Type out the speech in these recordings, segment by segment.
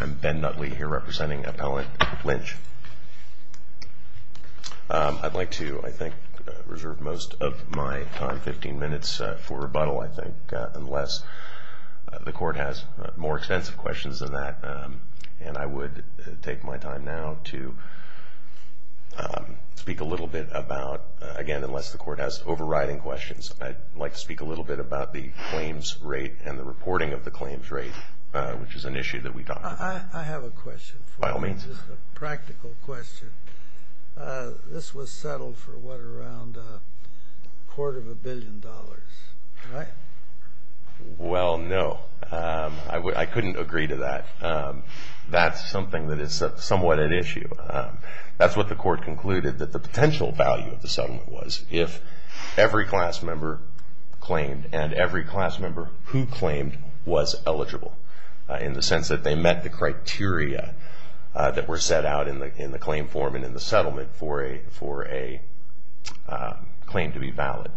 I'm Ben Nutley here representing Appellant Lynch. I'd like to, I think, reserve most of my time, 15 minutes, for rebuttal, I think, unless the court has more extensive questions than that. And I would take my time now to speak a little bit about, again, unless the court has overriding questions, I'd like to speak a little bit about the claims rate and the reporting of the claims rate, which is an issue that we talk about. I have a question for you. By all means. It's a practical question. This was settled for what, around a quarter of a billion dollars, right? Well, no. I couldn't agree to that. That's something that is somewhat an issue. That's what the court concluded, that the potential value of the settlement was if every class member who claimed was eligible, in the sense that they met the criteria that were set out in the claim form and in the settlement for a claim to be valid,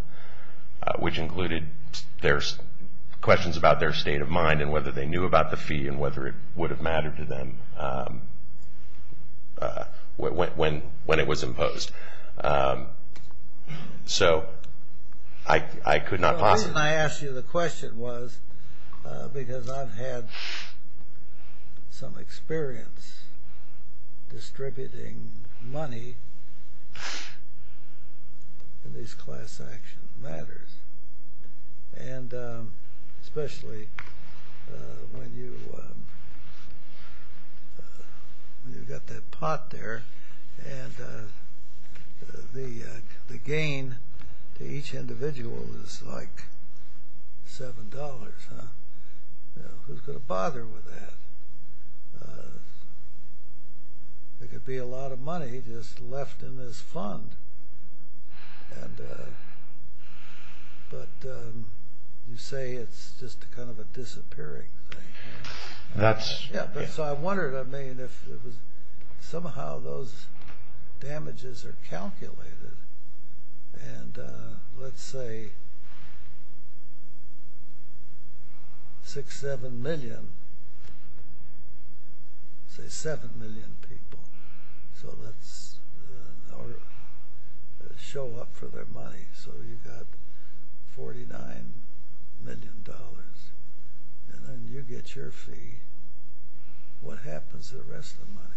which included questions about their state of mind and whether they knew about the fee and whether it would have mattered to them when it was imposed. So, I could not possibly... The reason I asked you the question was because I've had some experience distributing money in these class action matters. And especially when you've got that pot there and the gain to each individual is like $7, huh? Who's going to bother with that? There could be a lot of money just left in this fund. But you say it's just kind of a disappearing thing. That's... Say 7 million people show up for their money, so you've got $49 million. And then you get your fee. What happens to the rest of the money?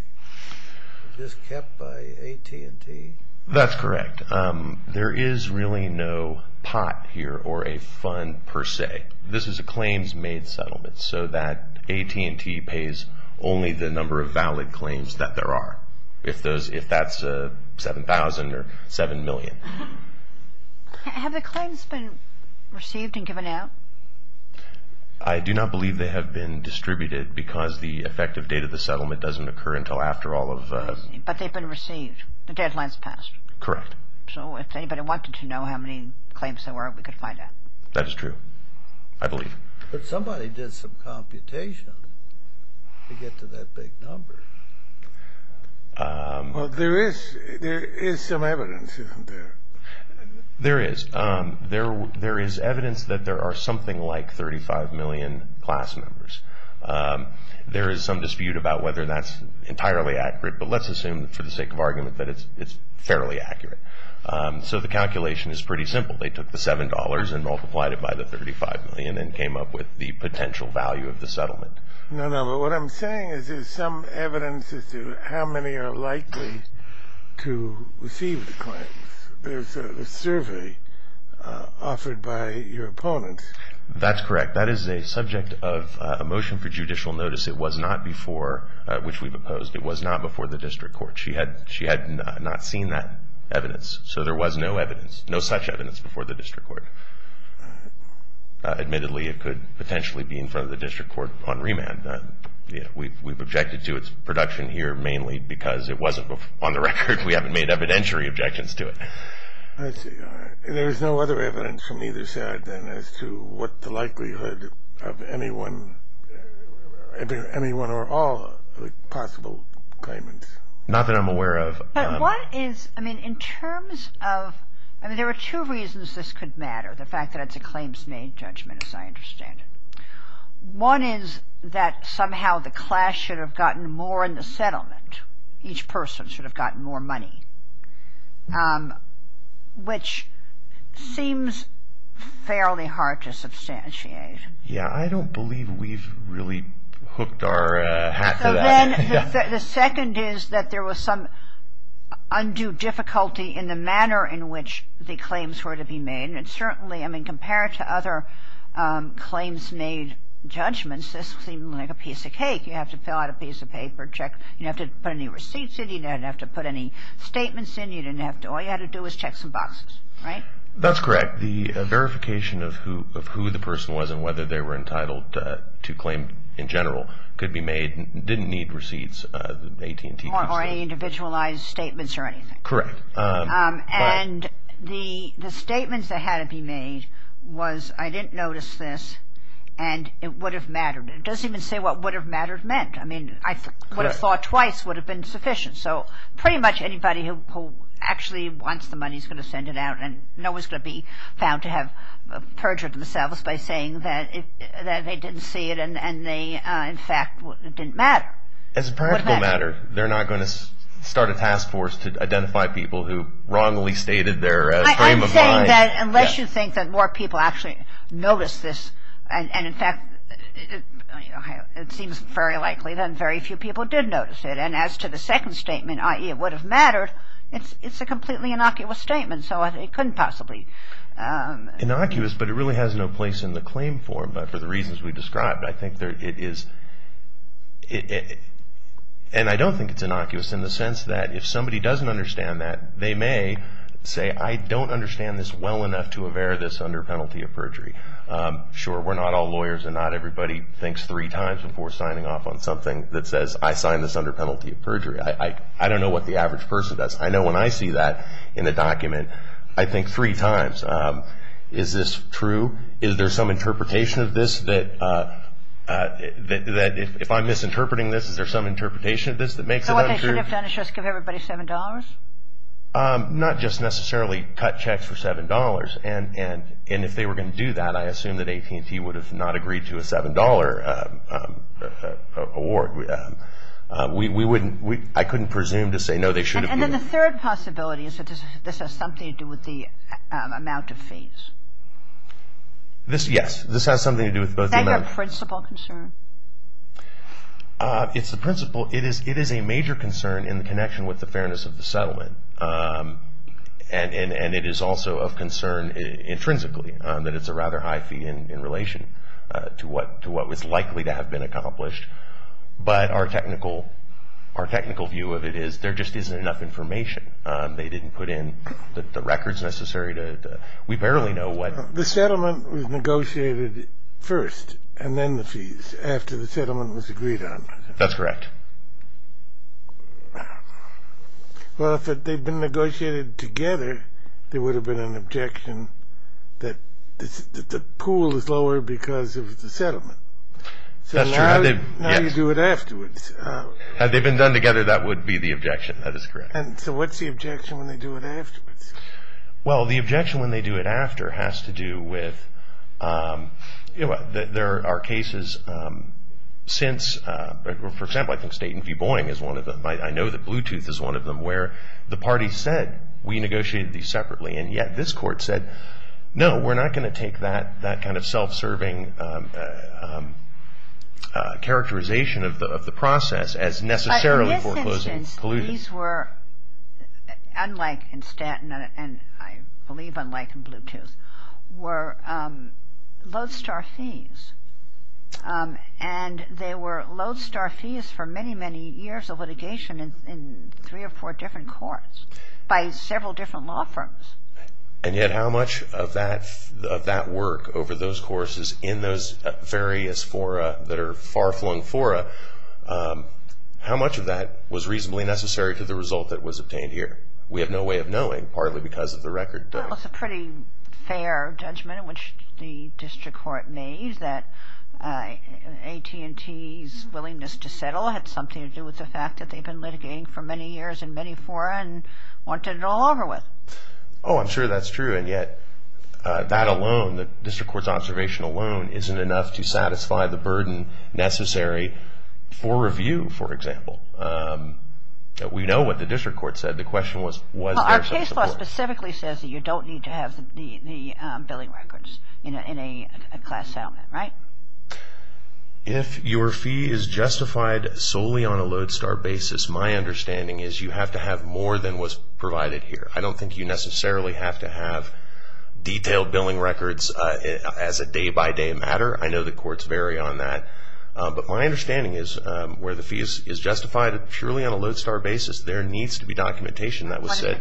Is it kept by AT&T? That's correct. There is really no pot here or a fund per se. This is a claims-made settlement, so that AT&T pays only the number of valid claims that there are, if that's 7,000 or 7 million. Have the claims been received and given out? I do not believe they have been distributed because the effective date of the settlement doesn't occur until after all of... But they've been received. The deadline's passed. Correct. So if anybody wanted to know how many claims there were, we could find out. That is true. I believe. But somebody did some computation to get to that big number. Well, there is some evidence, isn't there? There is. There is evidence that there are something like 35 million class members. There is some dispute about whether that's entirely accurate, but let's assume, for the sake of argument, that it's fairly accurate. So the calculation is pretty simple. They took the $7 and multiplied it by the 35 million and came up with the potential value of the settlement. No, no, but what I'm saying is there's some evidence as to how many are likely to receive the claims. There's a survey offered by your opponents. That's correct. That is a subject of a motion for judicial notice. It was not before, which we've opposed, it was not before the district court. She had not seen that evidence, so there was no evidence, no such evidence before the district court. Admittedly, it could potentially be in front of the district court on remand. We've objected to its production here mainly because it wasn't on the record. We haven't made evidentiary objections to it. There is no other evidence from either side than as to what the likelihood of anyone, anyone or all possible claimants. Not that I'm aware of. But what is, I mean, in terms of, I mean, there are two reasons this could matter. The fact that it's a claims made judgment, as I understand it. One is that somehow the class should have gotten more in the settlement. Each person should have gotten more money, which seems fairly hard to substantiate. Yeah, I don't believe we've really hooked our hat to that. And then the second is that there was some undue difficulty in the manner in which the claims were to be made. And certainly, I mean, compared to other claims made judgments, this seemed like a piece of cake. You have to fill out a piece of paper, check. You didn't have to put any receipts in. You didn't have to put any statements in. You didn't have to. All you had to do was check some boxes, right? That's correct. The verification of who the person was and whether they were entitled to claim in general could be made. Didn't need receipts. Or any individualized statements or anything. Correct. And the statements that had to be made was, I didn't notice this, and it would have mattered. It doesn't even say what would have mattered meant. I mean, I would have thought twice would have been sufficient. So pretty much anybody who actually wants the money is going to send it out. And no one's going to be found to have perjured themselves by saying that they didn't see it and they, in fact, didn't matter. As a practical matter, they're not going to start a task force to identify people who wrongly stated their claim of lying. I'm saying that unless you think that more people actually noticed this, and, in fact, it seems very likely that very few people did notice it. And as to the second statement, i.e., it would have mattered, it's a completely innocuous statement, so it couldn't possibly. Innocuous, but it really has no place in the claim form for the reasons we described. I think it is, and I don't think it's innocuous in the sense that if somebody doesn't understand that, they may say, I don't understand this well enough to aver this under penalty of perjury. Sure, we're not all lawyers and not everybody thinks three times before signing off on something that says, I signed this under penalty of perjury. I don't know what the average person does. I know when I see that in a document, I think three times. Is this true? Is there some interpretation of this that if I'm misinterpreting this, is there some interpretation of this that makes it untrue? So what they should have done is just give everybody $7? Not just necessarily cut checks for $7. And if they were going to do that, I assume that AT&T would have not agreed to a $7 award. I couldn't presume to say, no, they should have. And then the third possibility is that this has something to do with the amount of fees. Yes, this has something to do with both the amount of fees. Is that your principal concern? It's the principal. And it is also of concern intrinsically that it's a rather high fee in relation to what was likely to have been accomplished. But our technical view of it is there just isn't enough information. They didn't put in the records necessary to – we barely know what – The settlement was negotiated first and then the fees after the settlement was agreed on. That's correct. Well, if they'd been negotiated together, there would have been an objection that the pool is lower because of the settlement. That's true. So now you do it afterwards. Had they been done together, that would be the objection. That is correct. And so what's the objection when they do it afterwards? Well, the objection when they do it after has to do with – there are cases since – for example, I think Staten v. Boeing is one of them. I know that Bluetooth is one of them where the party said, we negotiated these separately. And yet this court said, no, we're not going to take that kind of self-serving characterization of the process as necessarily foreclosing collusion. But in this instance, these were, unlike in Staten and I believe unlike in Bluetooth, were lodestar fees. And they were lodestar fees for many, many years of litigation in three or four different courts by several different law firms. And yet how much of that work over those courses in those various fora that are far-flung fora, how much of that was reasonably necessary to the result that was obtained here? We have no way of knowing, partly because of the record. Well, it's a pretty fair judgment in which the district court made that AT&T's willingness to settle had something to do with the fact that they've been litigating for many years in many fora and wanted it all over with. Oh, I'm sure that's true. And yet that alone, the district court's observation alone, isn't enough to satisfy the burden necessary for review, for example. We know what the district court said. The question was, was there some support? The case law specifically says that you don't need to have the billing records in a class settlement, right? If your fee is justified solely on a lodestar basis, my understanding is you have to have more than was provided here. I don't think you necessarily have to have detailed billing records as a day-by-day matter. I know the courts vary on that. But my understanding is where the fee is justified purely on a lodestar basis, there needs to be documentation that would say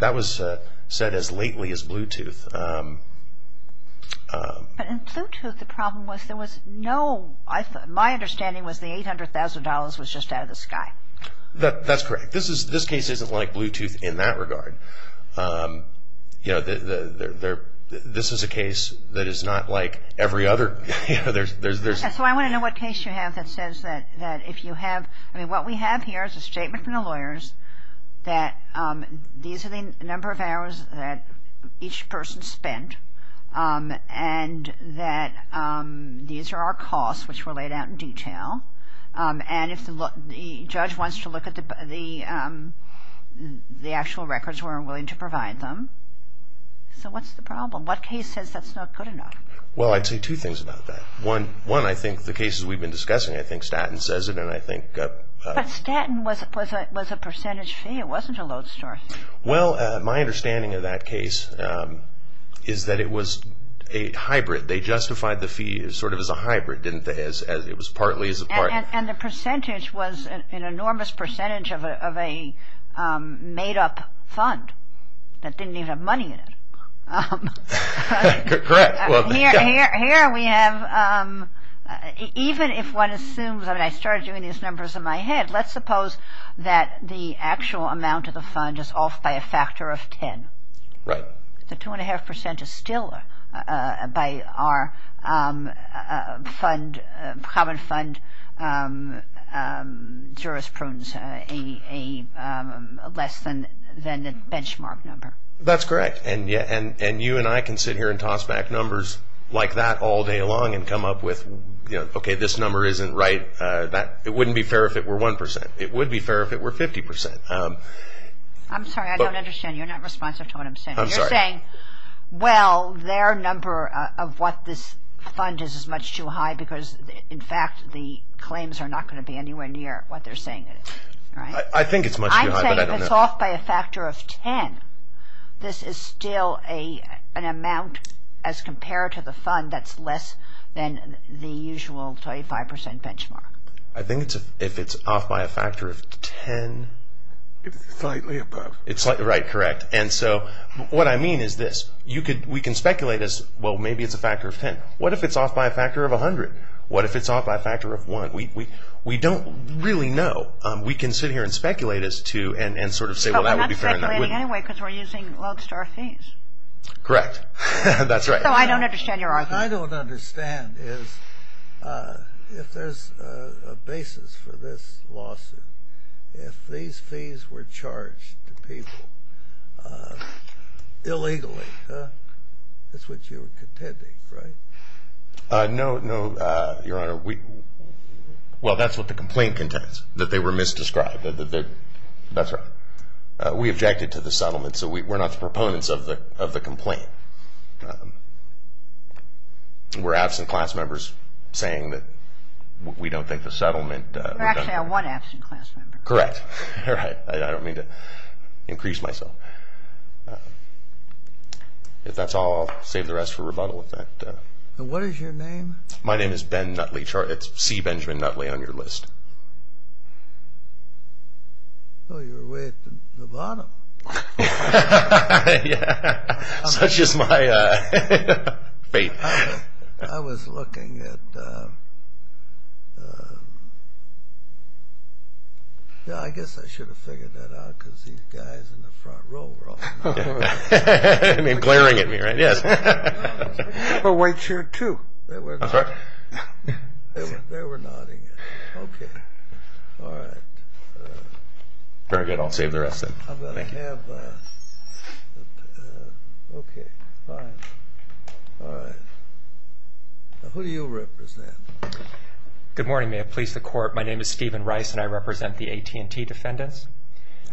That was said as lately as Bluetooth. But in Bluetooth, the problem was there was no, my understanding was the $800,000 was just out of the sky. That's correct. This case isn't like Bluetooth in that regard. You know, this is a case that is not like every other. So I want to know what case you have that says that if you have, I mean, what we have here is a statement from the lawyers that these are the number of hours that each person spent and that these are our costs, which were laid out in detail. And if the judge wants to look at the actual records, we're willing to provide them. So what's the problem? What case says that's not good enough? Well, I'd say two things about that. One, I think the cases we've been discussing, I think Statton says it and I think But Statton was a percentage fee. It wasn't a lodestar fee. Well, my understanding of that case is that it was a hybrid. They justified the fee sort of as a hybrid, didn't they, as it was partly as a part. And the percentage was an enormous percentage of a made-up fund that didn't even have money in it. Correct. Here we have, even if one assumes, I mean, I started doing these numbers in my head. Let's suppose that the actual amount of the fund is off by a factor of 10. Right. The 2.5% is still by our common fund jurisprudence less than the benchmark number. That's correct. And you and I can sit here and toss back numbers like that all day long and come up with, okay, this number isn't right. It wouldn't be fair if it were 1%. It would be fair if it were 50%. I'm sorry, I don't understand. You're not responsive to what I'm saying. I'm sorry. You're saying, well, their number of what this fund is is much too high because, in fact, the claims are not going to be anywhere near what they're saying it is, right? I think it's much too high, but I don't know. This is still an amount as compared to the fund that's less than the usual 25% benchmark. I think if it's off by a factor of 10. Slightly above. Right, correct. And so what I mean is this. We can speculate as, well, maybe it's a factor of 10. What if it's off by a factor of 100? What if it's off by a factor of 1? We don't really know. We can sit here and speculate as to and sort of say, well, that would be fair. We're not planning anyway because we're using lodestar fees. Correct. That's right. So I don't understand your argument. What I don't understand is if there's a basis for this lawsuit, if these fees were charged to people illegally, that's what you're contending, right? No, no, Your Honor. Well, that's what the complaint contends, that they were misdescribed. That's right. We objected to the settlement, so we're not the proponents of the complaint. We're absent class members saying that we don't think the settlement. You're actually our one absent class member. Correct. Right. I don't mean to increase myself. If that's all, I'll save the rest for rebuttal. And what is your name? My name is Ben Nutley. It's C. Benjamin Nutley on your list. Oh, you're way at the bottom. Yeah. Such is my faith. I was looking at, yeah, I guess I should have figured that out because these guys in the front row were all nodding. You mean glaring at me, right? Yes. But wait here too. That's right. They were nodding. Okay. All right. Very good. I'll save the rest then. Thank you. Okay. Fine. All right. Who do you represent? Good morning. May it please the Court. My name is Stephen Rice, and I represent the AT&T defendants.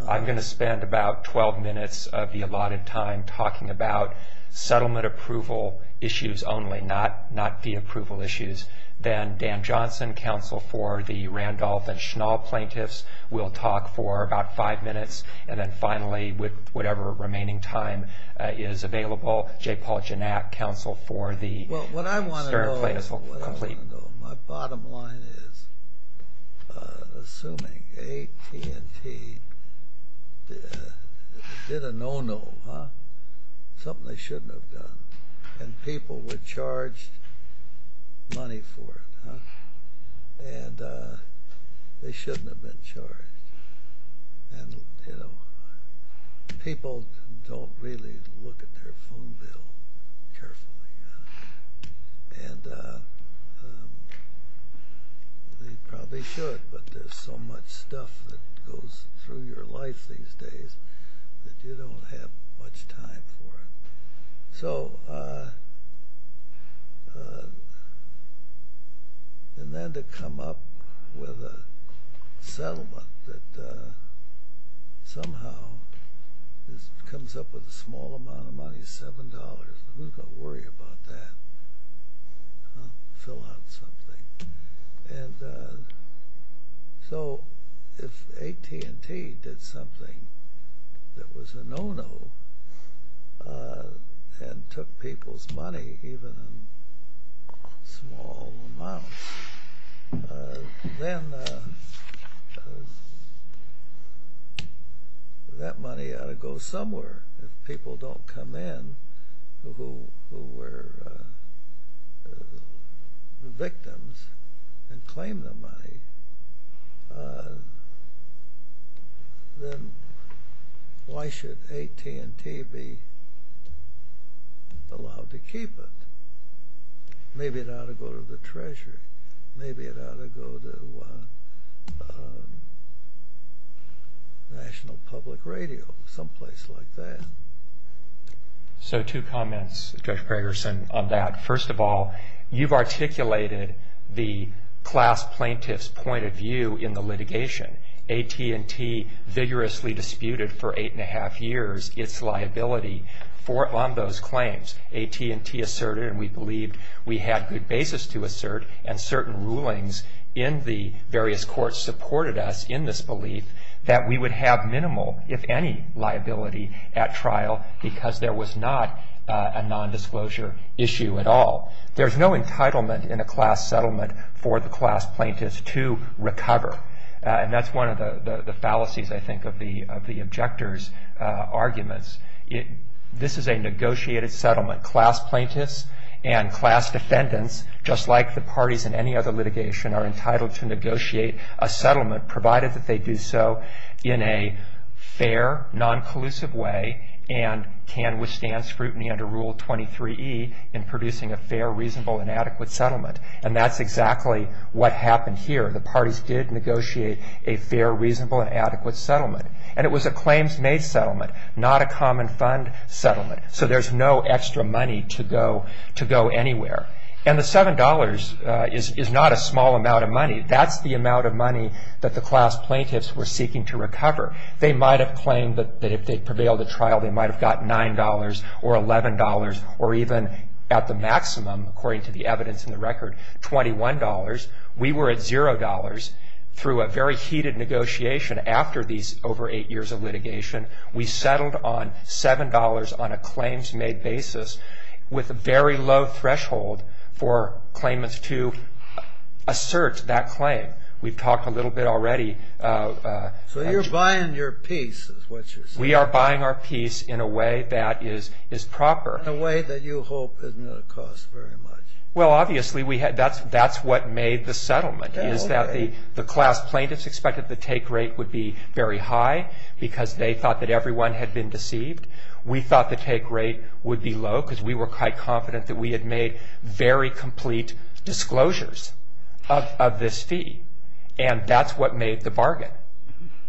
I'm going to spend about 12 minutes of the allotted time talking about settlement approval issues only, not the approval issues. Then Dan Johnson, counsel for the Randolph and Schnell plaintiffs, will talk for about five minutes. And then finally, with whatever remaining time is available, J. Paul Janak, counsel for the Stern plaintiffs will complete. Well, what I want to know, my bottom line is, assuming AT&T did a no-no, something they shouldn't have done, and people were charged money for it, and they shouldn't have been charged. And, you know, people don't really look at their phone bill carefully. And they probably should, but there's so much stuff that goes through your life these days that you don't have much time for it. So, and then to come up with a settlement that somehow comes up with a small amount of money, $7, who's going to worry about that? Fill out something. And so if AT&T did something that was a no-no and took people's money, even in small amounts, then that money ought to go somewhere. If people don't come in who were victims and claim the money, then why should AT&T be allowed to keep it? Maybe it ought to go to the Treasury. Maybe it ought to go to National Public Radio, someplace like that. So two comments, Judge Gregersen, on that. First of all, you've articulated the class plaintiff's point of view in the litigation. AT&T vigorously disputed for eight and a half years its liability on those claims. AT&T asserted, and we believed we had good basis to assert, and certain rulings in the various courts supported us in this belief that we would have minimal, if any, liability at trial because there was not a nondisclosure issue at all. There's no entitlement in a class settlement for the class plaintiffs to recover. And that's one of the fallacies, I think, of the objector's arguments. This is a negotiated settlement. Class plaintiffs and class defendants, just like the parties in any other litigation, are entitled to negotiate a settlement, provided that they do so in a fair, non-collusive way and can withstand scrutiny under Rule 23E in producing a fair, reasonable, and adequate settlement. And that's exactly what happened here. The parties did negotiate a fair, reasonable, and adequate settlement. And it was a claims-made settlement, not a common fund settlement. So there's no extra money to go anywhere. And the $7 is not a small amount of money. That's the amount of money that the class plaintiffs were seeking to recover. They might have claimed that if they prevailed at trial, they might have gotten $9 or $11 or even at the maximum, according to the evidence in the record, $21. We were at $0 through a very heated negotiation after these over eight years of litigation. We settled on $7 on a claims-made basis with a very low threshold for claimants to assert that claim. We've talked a little bit already. So you're buying your peace, is what you're saying. We are buying our peace in a way that is proper. In a way that you hope isn't going to cost very much. Well, obviously, that's what made the settlement, is that the class plaintiffs expected the take rate would be very high because they thought that everyone had been deceived. We thought the take rate would be low because we were quite confident that we had made very complete disclosures of this fee. And that's what made the bargain.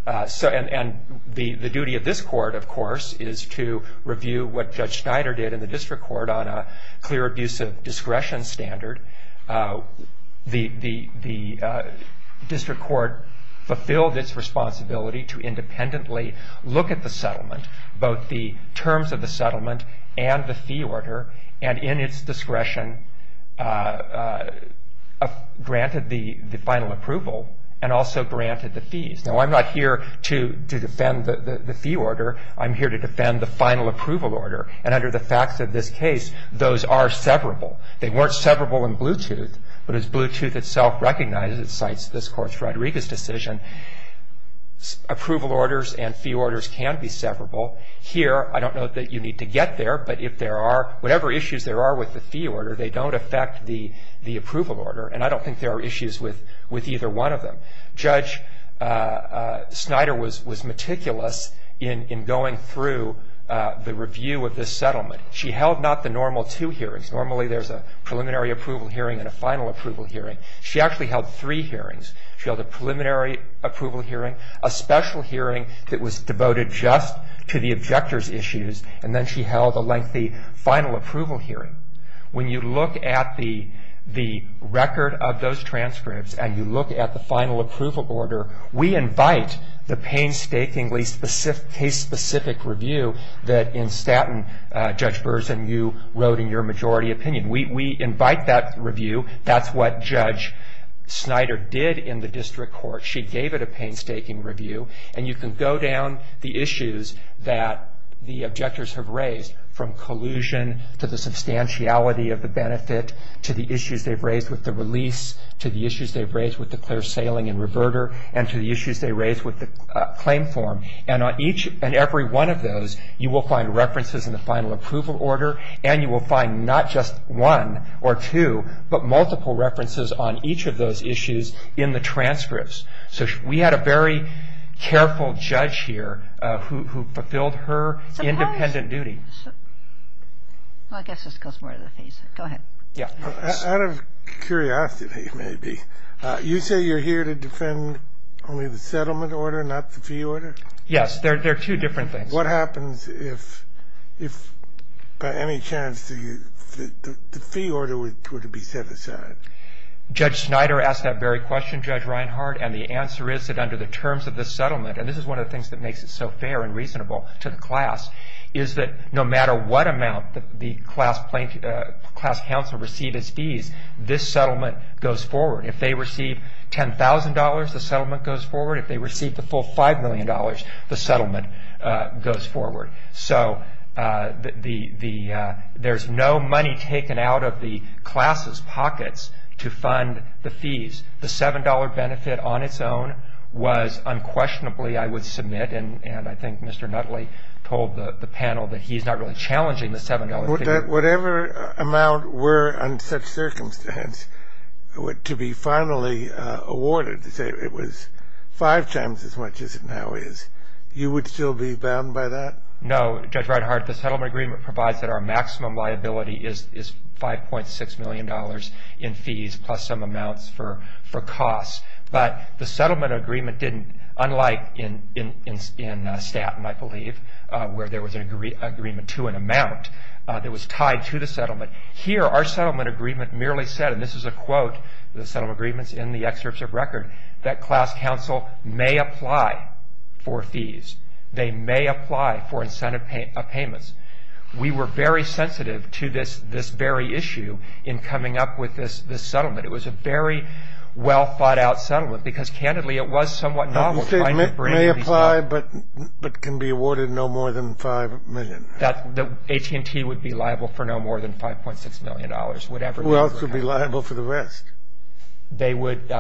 And the duty of this court, of course, is to review what Judge Schneider did in the district court on a clear abuse of discretion standard. The district court fulfilled its responsibility to independently look at the settlement, both the terms of the settlement and the fee order, and in its discretion granted the final approval and also granted the fees. Now, I'm not here to defend the fee order. I'm here to defend the final approval order. And under the facts of this case, those are severable. They weren't severable in Bluetooth, but as Bluetooth itself recognizes and cites this Court's Rodriguez decision, approval orders and fee orders can be severable. Here, I don't know that you need to get there, but if there are whatever issues there are with the fee order, they don't affect the approval order. And I don't think there are issues with either one of them. Judge Schneider was meticulous in going through the review of this settlement. She held not the normal two hearings. Normally, there's a preliminary approval hearing and a final approval hearing. She actually held three hearings. She held a preliminary approval hearing, a special hearing that was devoted just to the objector's issues, and then she held a lengthy final approval hearing. When you look at the record of those transcripts and you look at the final approval order, we invite the painstakingly case-specific review that in Staten, Judge Burson, you wrote in your majority opinion. We invite that review. That's what Judge Schneider did in the district court. She gave it a painstaking review, and you can go down the issues that the objectors have raised, from collusion to the substantiality of the benefit to the issues they've raised with the release to the issues they've raised with the clear sailing and reverter and to the issues they raised with the claim form. And on each and every one of those, you will find references in the final approval order, and you will find not just one or two, but multiple references on each of those issues in the transcripts. So we had a very careful judge here who fulfilled her independent duty. I guess this goes more to the fees. Go ahead. Out of curiosity, maybe, you say you're here to defend only the settlement order, not the fee order? Yes, they're two different things. What happens if by any chance the fee order were to be set aside? Judge Schneider asked that very question, Judge Reinhard, and the answer is that under the terms of the settlement, and this is one of the things that makes it so fair and reasonable to the class, is that no matter what amount the class council received as fees, this settlement goes forward. If they receive $10,000, the settlement goes forward. If they receive the full $5 million, the settlement goes forward. So there's no money taken out of the class's pockets to fund the fees. The $7 benefit on its own was unquestionably, I would submit, and I think Mr. Nutley told the panel that he's not really challenging the $7. Whatever amount were in such circumstance to be finally awarded, say it was five times as much as it now is, you would still be bound by that? No, Judge Reinhard. The settlement agreement provides that our maximum liability is $5.6 million in fees plus some amounts for costs. But the settlement agreement didn't, unlike in Staten, I believe, where there was an agreement to an amount that was tied to the settlement. Here, our settlement agreement merely said, and this is a quote of the settlement agreements in the excerpts of record, that class council may apply for fees. They may apply for incentive payments. We were very sensitive to this very issue in coming up with this settlement. It was a very well-thought-out settlement because, candidly, it was somewhat novel. You say may apply but can be awarded no more than $5 million. AT&T would be liable for no more than $5.6 million. Who else would be liable for the rest? They would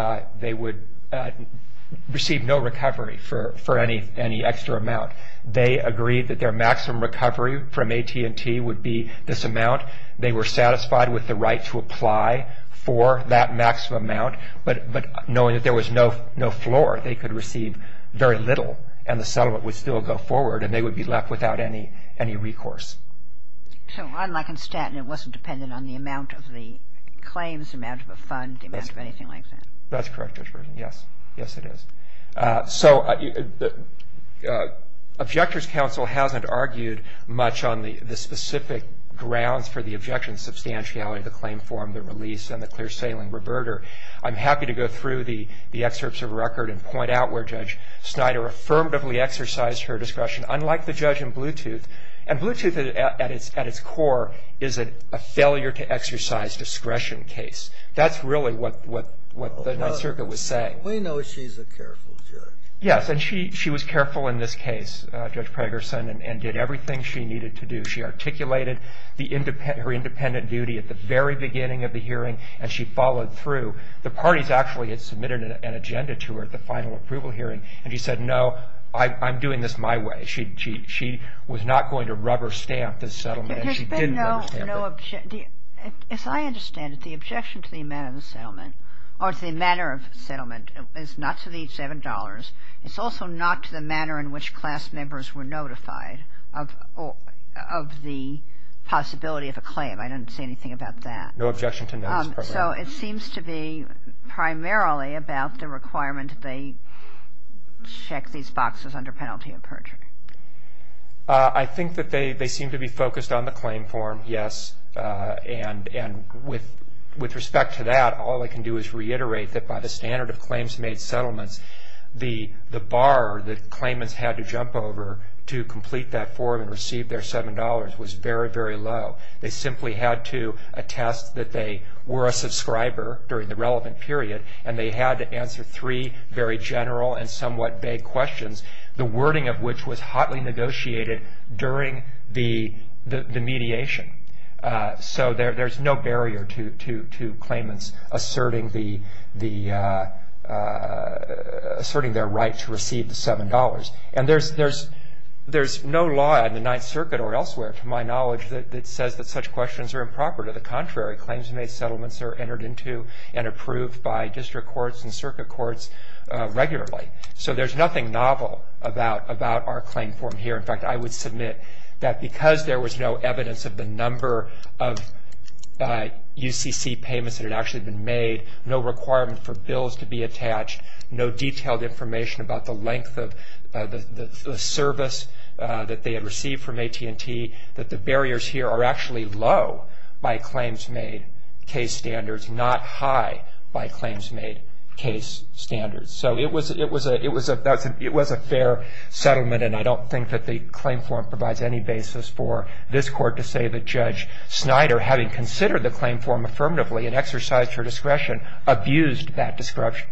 receive no recovery for any extra amount. They agreed that their maximum recovery from AT&T would be this amount. They were satisfied with the right to apply for that maximum amount. But knowing that there was no floor, they could receive very little and the settlement would still go forward and they would be left without any recourse. So, unlike in Staten, it wasn't dependent on the amount of the claims, the amount of a fund, the amount of anything like that. That's correct, Judge Reinhard. Yes, it is. Objectors' counsel hasn't argued much on the specific grounds for the objection's substantiality of the claim form, the release, and the clear-sailing reverter. I'm happy to go through the excerpts of the record and point out where Judge Snyder affirmatively exercised her discretion, unlike the judge in Bluetooth. And Bluetooth, at its core, is a failure-to-exercise-discretion case. That's really what the Ninth Circuit was saying. We know she's a careful judge. Yes, and she was careful in this case, Judge Pragerson, and did everything she needed to do. She articulated her independent duty at the very beginning of the hearing and she followed through. The parties actually had submitted an agenda to her at the final approval hearing and she said, no, I'm doing this my way. She was not going to rubber-stamp this settlement and she didn't rubber-stamp it. As I understand it, the objection to the amount of the settlement or to the manner of settlement is not to the $7.00. It's also not to the manner in which class members were notified of the possibility of a claim. I didn't see anything about that. No objection to that. So it seems to be primarily about the requirement that they check these boxes under penalty of perjury. I think that they seem to be focused on the claim form, yes, and with respect to that, all I can do is reiterate that by the standard of claims made settlements, the bar that claimants had to jump over to complete that form and receive their $7.00 was very, very low. They simply had to attest that they were a subscriber during the relevant period and they had to answer three very general and somewhat vague questions, the wording of which was hotly negotiated during the mediation. So there's no barrier to claimants asserting their right to receive the $7.00. And there's no law in the Ninth Circuit or elsewhere, to my knowledge, that says that such questions are improper. To the contrary, claims made settlements are entered into and approved by district courts and circuit courts regularly. So there's nothing novel about our claim form here. In fact, I would submit that because there was no evidence of the number of UCC payments that had actually been made, no requirement for bills to be attached, no detailed information about the length of the service that they had received from AT&T, that the barriers here are actually low by claims made case standards, not high by claims made case standards. So it was a fair settlement, and I don't think that the claim form provides any basis for this court to say that Judge Snyder, having considered the claim form affirmatively and exercised her discretion, abused that discretion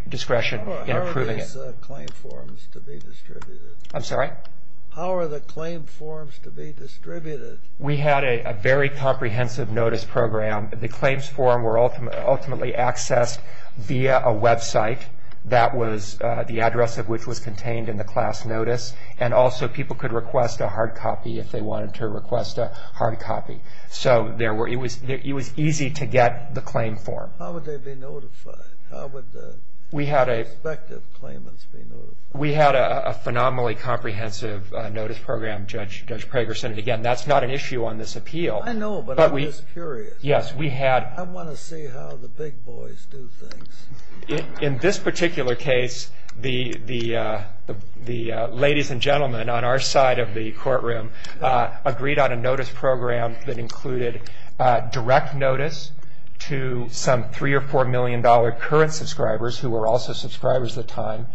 in approving it. How are these claim forms to be distributed? I'm sorry? How are the claim forms to be distributed? We had a very comprehensive notice program. The claims form were ultimately accessed via a website. That was the address of which was contained in the class notice, and also people could request a hard copy if they wanted to request a hard copy. So it was easy to get the claim form. How would they be notified? How would the respective claimants be notified? We had a phenomenally comprehensive notice program, Judge Pragerson. Again, that's not an issue on this appeal. I know, but I'm just curious. I want to see how the big boys do things. In this particular case, the ladies and gentlemen on our side of the courtroom agreed on a notice program that included direct notice to some $3 or $4 million current subscribers, who were also subscribers at the time,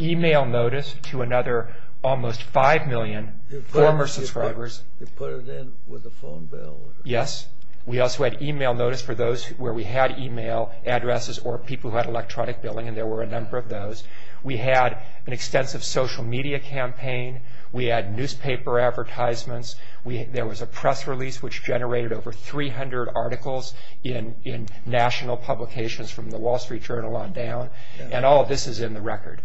email notice to another almost 5 million former subscribers. You put it in with a phone bill. Yes. We also had email notice for those where we had email addresses or people who had electronic billing, and there were a number of those. We had an extensive social media campaign. We had newspaper advertisements. There was a press release which generated over 300 articles in national publications from the Wall Street Journal on down, and all of this is in the record.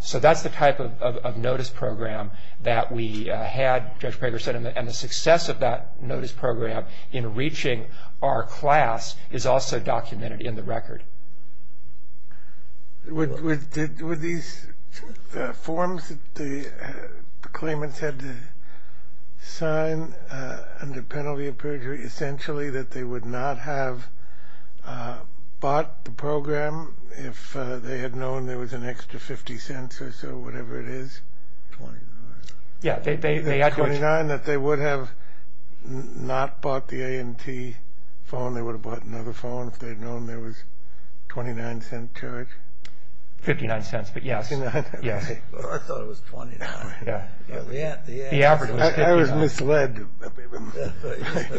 So that's the type of notice program that we had, Judge Pragerson, and the success of that notice program in reaching our class is also documented in the record. Were these forms that the claimants had to sign under penalty of perjury essentially that they would not have bought the program if they had known there was an extra 50 cents or so, whatever it is? $29. $29 that they would have not bought the A&T phone, they would have bought another phone if they had known there was $0.29 charge? $0.59, but yes. I thought it was $0.20. The average was $0.59. I was misled.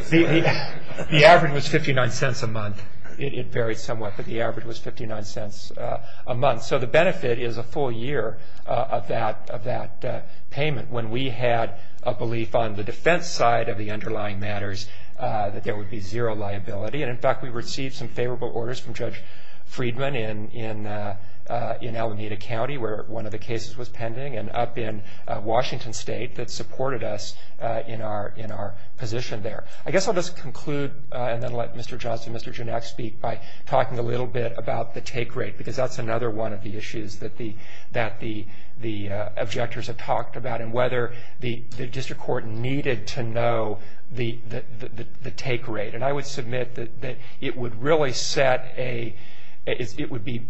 The average was $0.59 a month. It varied somewhat, but the average was $0.59 a month. So the benefit is a full year of that payment. When we had a belief on the defense side of the underlying matters that there would be zero liability, and in fact we received some favorable orders from Judge Friedman in Alameda County where one of the cases was pending, and up in Washington State that supported us in our position there. I guess I'll just conclude and then let Mr. Johnson and Mr. Genach speak by talking a little bit about the take rate, because that's another one of the issues that the objectors have talked about and whether the district court needed to know the take rate. And I would submit that it would really set a – it would be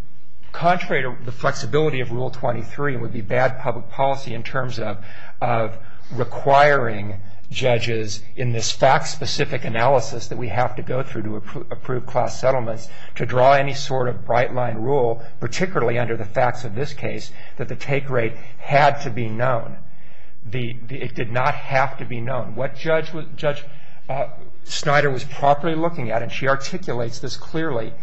contrary to the flexibility of Rule 23 and would be bad public policy in terms of requiring judges in this fact-specific analysis that we have to go through to approve class settlements to draw any sort of bright-line rule, particularly under the facts of this case, that the take rate had to be known. It did not have to be known. What Judge Snyder was properly looking at, and she articulates this clearly,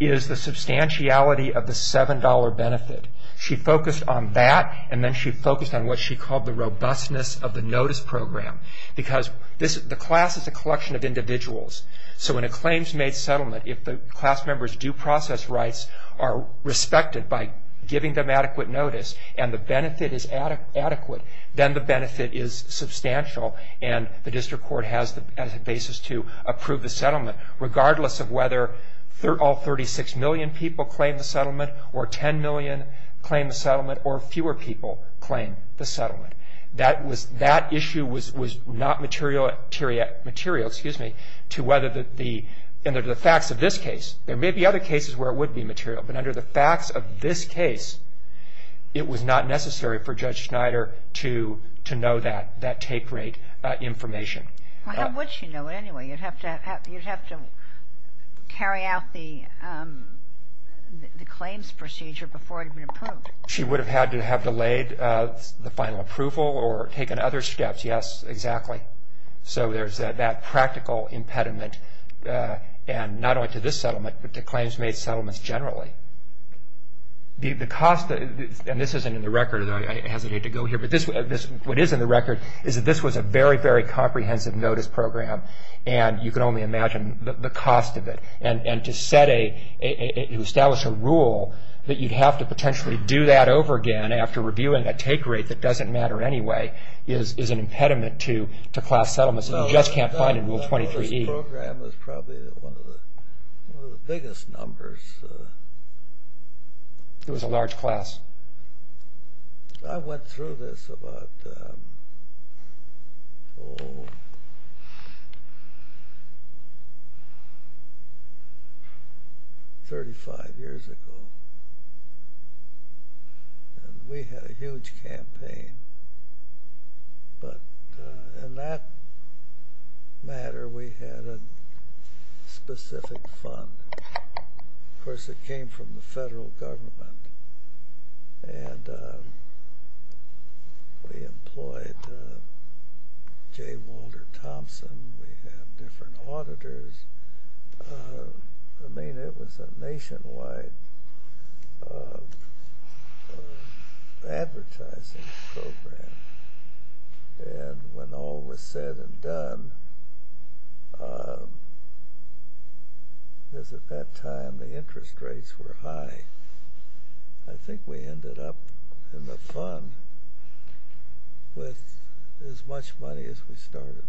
is the substantiality of the $7 benefit. She focused on that, and then she focused on what she called the robustness of the notice program, because the class is a collection of individuals. So in a claims-made settlement, if the class members' due process rights are respected by giving them adequate notice and the benefit is adequate, then the benefit is substantial, and the district court has the basis to approve the settlement, regardless of whether all 36 million people claim the settlement or 10 million claim the settlement or fewer people claim the settlement. That issue was not material to whether the facts of this case. There may be other cases where it would be material, but under the facts of this case, it was not necessary for Judge Snyder to know that take rate information. Well, how would she know it anyway? You'd have to carry out the claims procedure before it had been approved. She would have had to have delayed the final approval or taken other steps. Yes, exactly. So there's that practical impediment, and not only to this settlement, but to claims-made settlements generally. The cost, and this isn't in the record, and I hesitate to go here, but what is in the record is that this was a very, very comprehensive notice program, and you can only imagine the cost of it. And to establish a rule that you'd have to potentially do that over again after reviewing a take rate that doesn't matter anyway is an impediment to class settlements that you just can't find in Rule 23E. This program was probably one of the biggest numbers. It was a large class. I went through this about, oh, 35 years ago, and we had a huge campaign. But in that matter, we had a specific fund. Of course, it came from the federal government, and we employed J. Walter Thompson. We had different auditors. I mean, it was a nationwide advertising program. And when all was said and done, because at that time the interest rates were high, I think we ended up in the fund with as much money as we started with.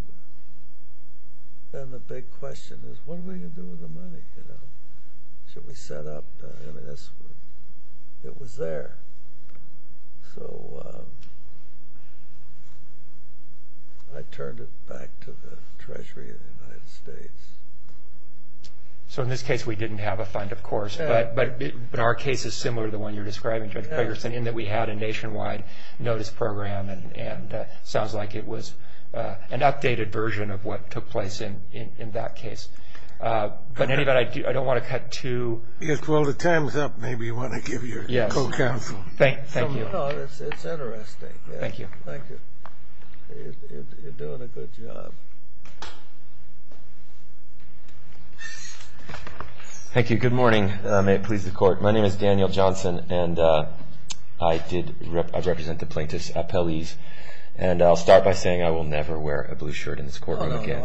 Then the big question is, what are we going to do with the money? Should we set up? It was there. So I turned it back to the Treasury of the United States. So in this case, we didn't have a fund, of course, but our case is similar to the one you're describing, Judge Ferguson, in that we had a nationwide notice program, and it sounds like it was an updated version of what took place in that case. But I don't want to cut to— Well, the time's up. Maybe you want to give your co-counsel. Thank you. It's interesting. Thank you. Thank you. You're doing a good job. Thank you. Good morning. May it please the Court. My name is Daniel Johnson, and I represent the plaintiffs' appellees. And I'll start by saying I will never wear a blue shirt in this courtroom again.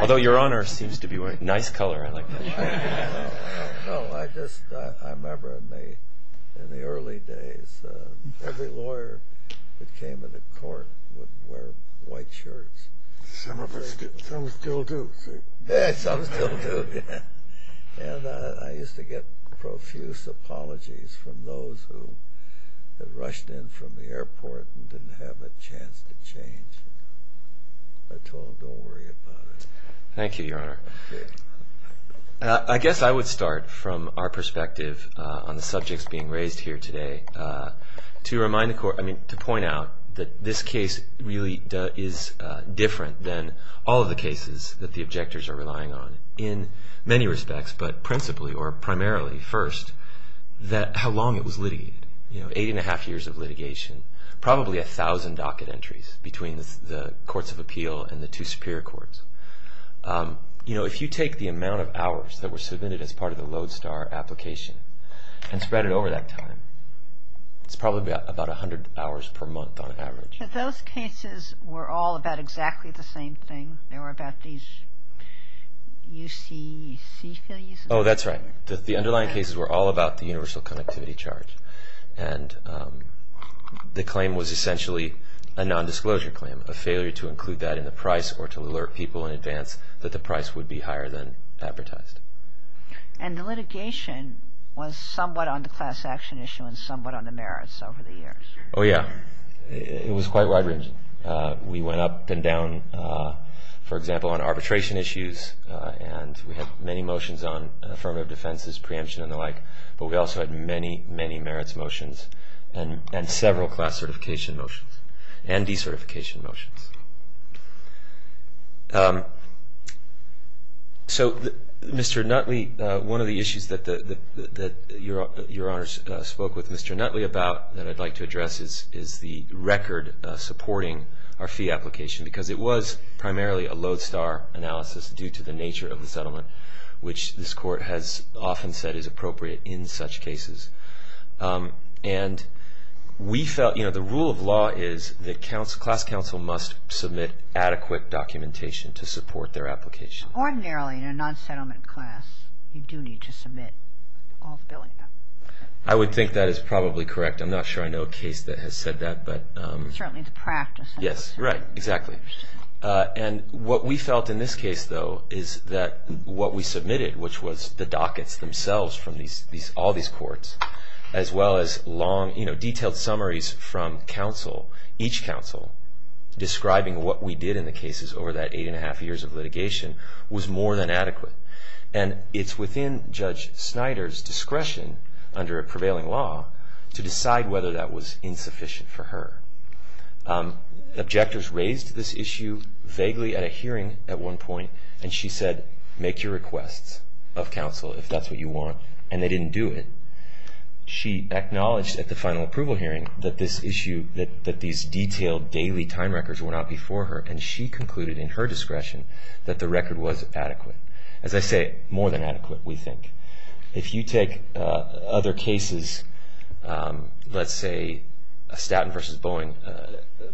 Although your Honor seems to be wearing a nice color. No, I just remember in the early days, every lawyer that came into court would wear white shirts. Some still do. Yeah, some still do. And I used to get profuse apologies from those who had rushed in from the airport and didn't have a chance to change. Thank you, Your Honor. I guess I would start from our perspective on the subjects being raised here today to point out that this case really is different than all of the cases that the objectors are relying on in many respects, but principally or primarily first, that how long it was litigated. Eight and a half years of litigation. Probably a thousand docket entries between the courts of appeal and the two superior courts. You know, if you take the amount of hours that were submitted as part of the Lodestar application and spread it over that time, it's probably about 100 hours per month on average. But those cases were all about exactly the same thing. They were about these UCC fees. Oh, that's right. The underlying cases were all about the universal connectivity charge. And the claim was essentially a nondisclosure claim, a failure to include that in the price or to alert people in advance that the price would be higher than advertised. And the litigation was somewhat on the class action issue and somewhat on the merits over the years. Oh, yeah. It was quite wide-ranging. We went up and down, for example, on arbitration issues, and we had many motions on affirmative defenses, preemption, and the like. But we also had many, many merits motions and several class certification motions and decertification motions. So Mr. Nutley, one of the issues that Your Honor spoke with Mr. Nutley about that I'd like to address is the record supporting our fee application because it was primarily a Lodestar analysis due to the nature of the settlement, which this court has often said is appropriate in such cases. And we felt the rule of law is that class counsel must submit adequate documentation to support their application. Ordinarily, in a non-settlement class, you do need to submit all the billing. I would think that is probably correct. I'm not sure I know a case that has said that. Certainly, it's a practice. Yes, right, exactly. which was the dockets themselves from all these courts, as well as long, detailed summaries from counsel, each counsel, describing what we did in the cases over that eight and a half years of litigation was more than adequate. And it's within Judge Snyder's discretion under a prevailing law to decide whether that was insufficient for her. Objectors raised this issue vaguely at a hearing at one point, and she said, make your requests of counsel if that's what you want, and they didn't do it. She acknowledged at the final approval hearing that this issue, that these detailed daily time records were not before her, and she concluded in her discretion that the record was adequate. As I say, more than adequate, we think. If you take other cases, let's say, Statton v. Boeing,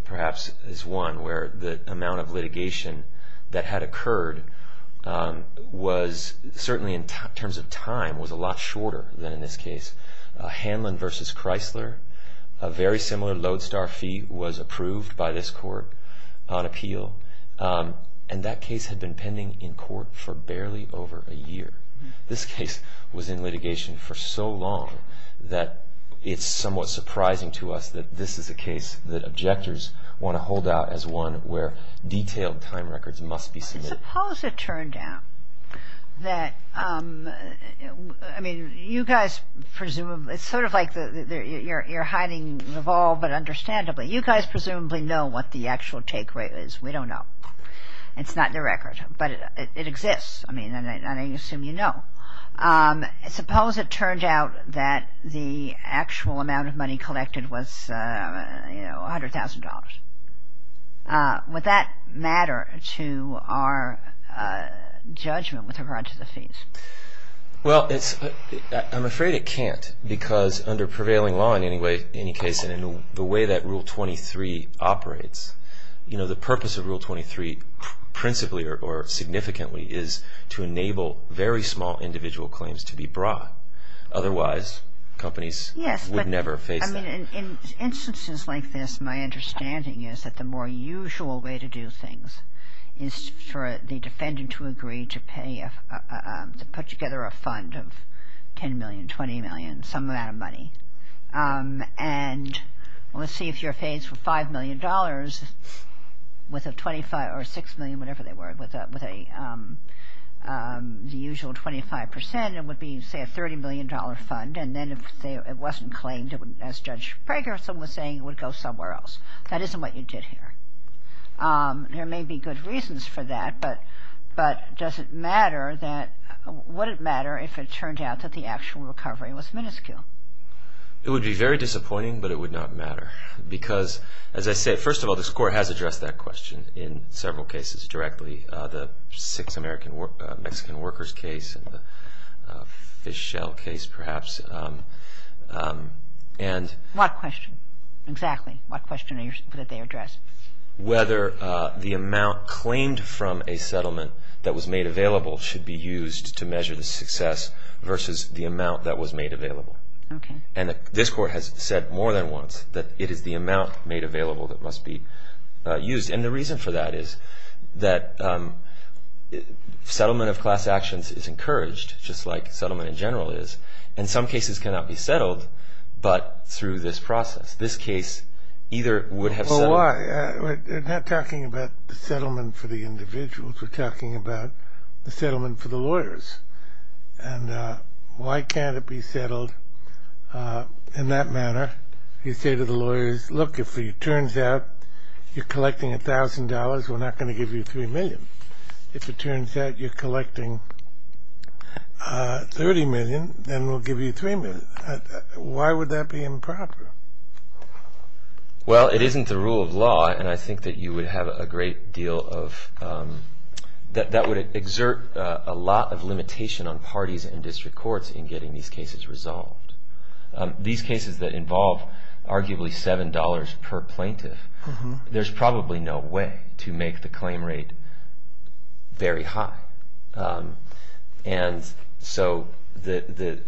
perhaps, is one where the amount of litigation that had occurred was, certainly in terms of time, was a lot shorter than in this case. Hanlon v. Chrysler, a very similar lodestar fee was approved by this court on appeal, and that case had been pending in court for barely over a year. This case was in litigation for so long that it's somewhat surprising to us that this is a case that objectors want to hold out as one where detailed time records must be submitted. Suppose it turned out that, I mean, you guys presumably, it's sort of like you're hiding the ball, but understandably, you guys presumably know what the actual take rate is. We don't know. It's not in the record, but it exists, and I assume you know. Suppose it turned out that the actual amount of money collected was $100,000. Would that matter to our judgment with regard to the fees? Well, I'm afraid it can't because under prevailing law in any case and in the way that Rule 23 operates, the purpose of Rule 23 principally or significantly is to enable very small individual claims to be brought. Otherwise, companies would never face that. Yes, but, I mean, in instances like this, my understanding is that the more usual way to do things is for the defendant to agree to put together a fund of $10 million, $20 million, some amount of money, and let's see if you're faced with $5 million or $6 million, whatever they were, with the usual 25%. It would be, say, a $30 million fund, and then if it wasn't claimed, as Judge Prager was saying, it would go somewhere else. That isn't what you did here. There may be good reasons for that, but does it matter that – would it matter if it turned out that the actual recovery was minuscule? It would be very disappointing, but it would not matter because, as I said, first of all, this Court has addressed that question in several cases directly, the six Mexican workers case and the fish shell case, perhaps. What question? Exactly. What question did they address? Whether the amount claimed from a settlement that was made available should be used to measure the success versus the amount that was made available. Okay. This Court has said more than once that it is the amount made available that must be used, and the reason for that is that settlement of class actions is encouraged, just like settlement in general is, and some cases cannot be settled but through this process. This case either would have – Well, why? We're not talking about the settlement for the individuals. We're talking about the settlement for the lawyers. And why can't it be settled in that manner? You say to the lawyers, look, if it turns out you're collecting $1,000, we're not going to give you $3 million. If it turns out you're collecting $30 million, then we'll give you $3 million. Why would that be improper? Well, it isn't the rule of law, and I think that you would have a great deal of – that would exert a lot of limitation on parties and district courts in getting these cases resolved. These cases that involve arguably $7 per plaintiff, there's probably no way to make the claim rate very high. And so that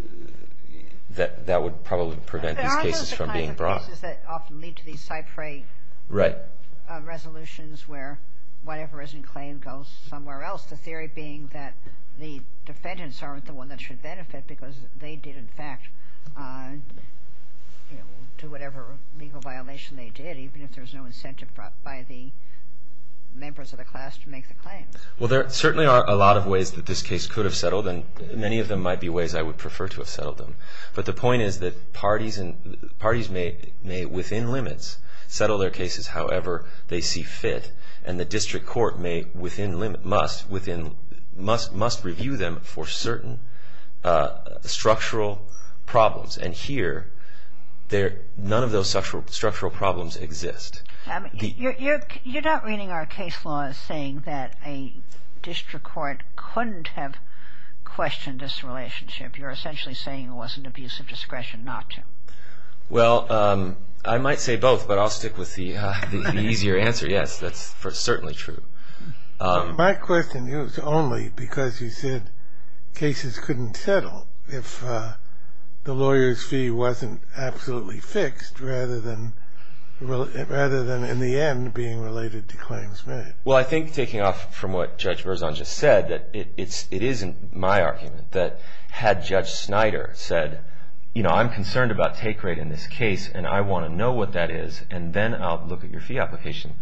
would probably prevent these cases from being brought. There are those kinds of cases that often lead to these Cypre resolutions where whatever isn't claimed goes somewhere else, the theory being that the defendants aren't the one that should benefit because they did, in fact, do whatever legal violation they did, even if there's no incentive by the members of the class to make the claim. Well, there certainly are a lot of ways that this case could have settled, and many of them might be ways I would prefer to have settled them. But the point is that parties may, within limits, settle their cases however they see fit, and the district court must review them for certain structural problems. And here, none of those structural problems exist. You're not reading our case law as saying that a district court couldn't have questioned this relationship. You're essentially saying it was an abuse of discretion not to. Well, I might say both, but I'll stick with the easier answer. Yes, that's certainly true. My question is only because you said cases couldn't settle if the lawyer's fee wasn't absolutely fixed rather than, in the end, being related to claims made. Well, I think, taking off from what Judge Berzon just said, that it isn't my argument that had Judge Snyder said, you know, I'm concerned about take rate in this case, and I want to know what that is, and then I'll look at your fee application,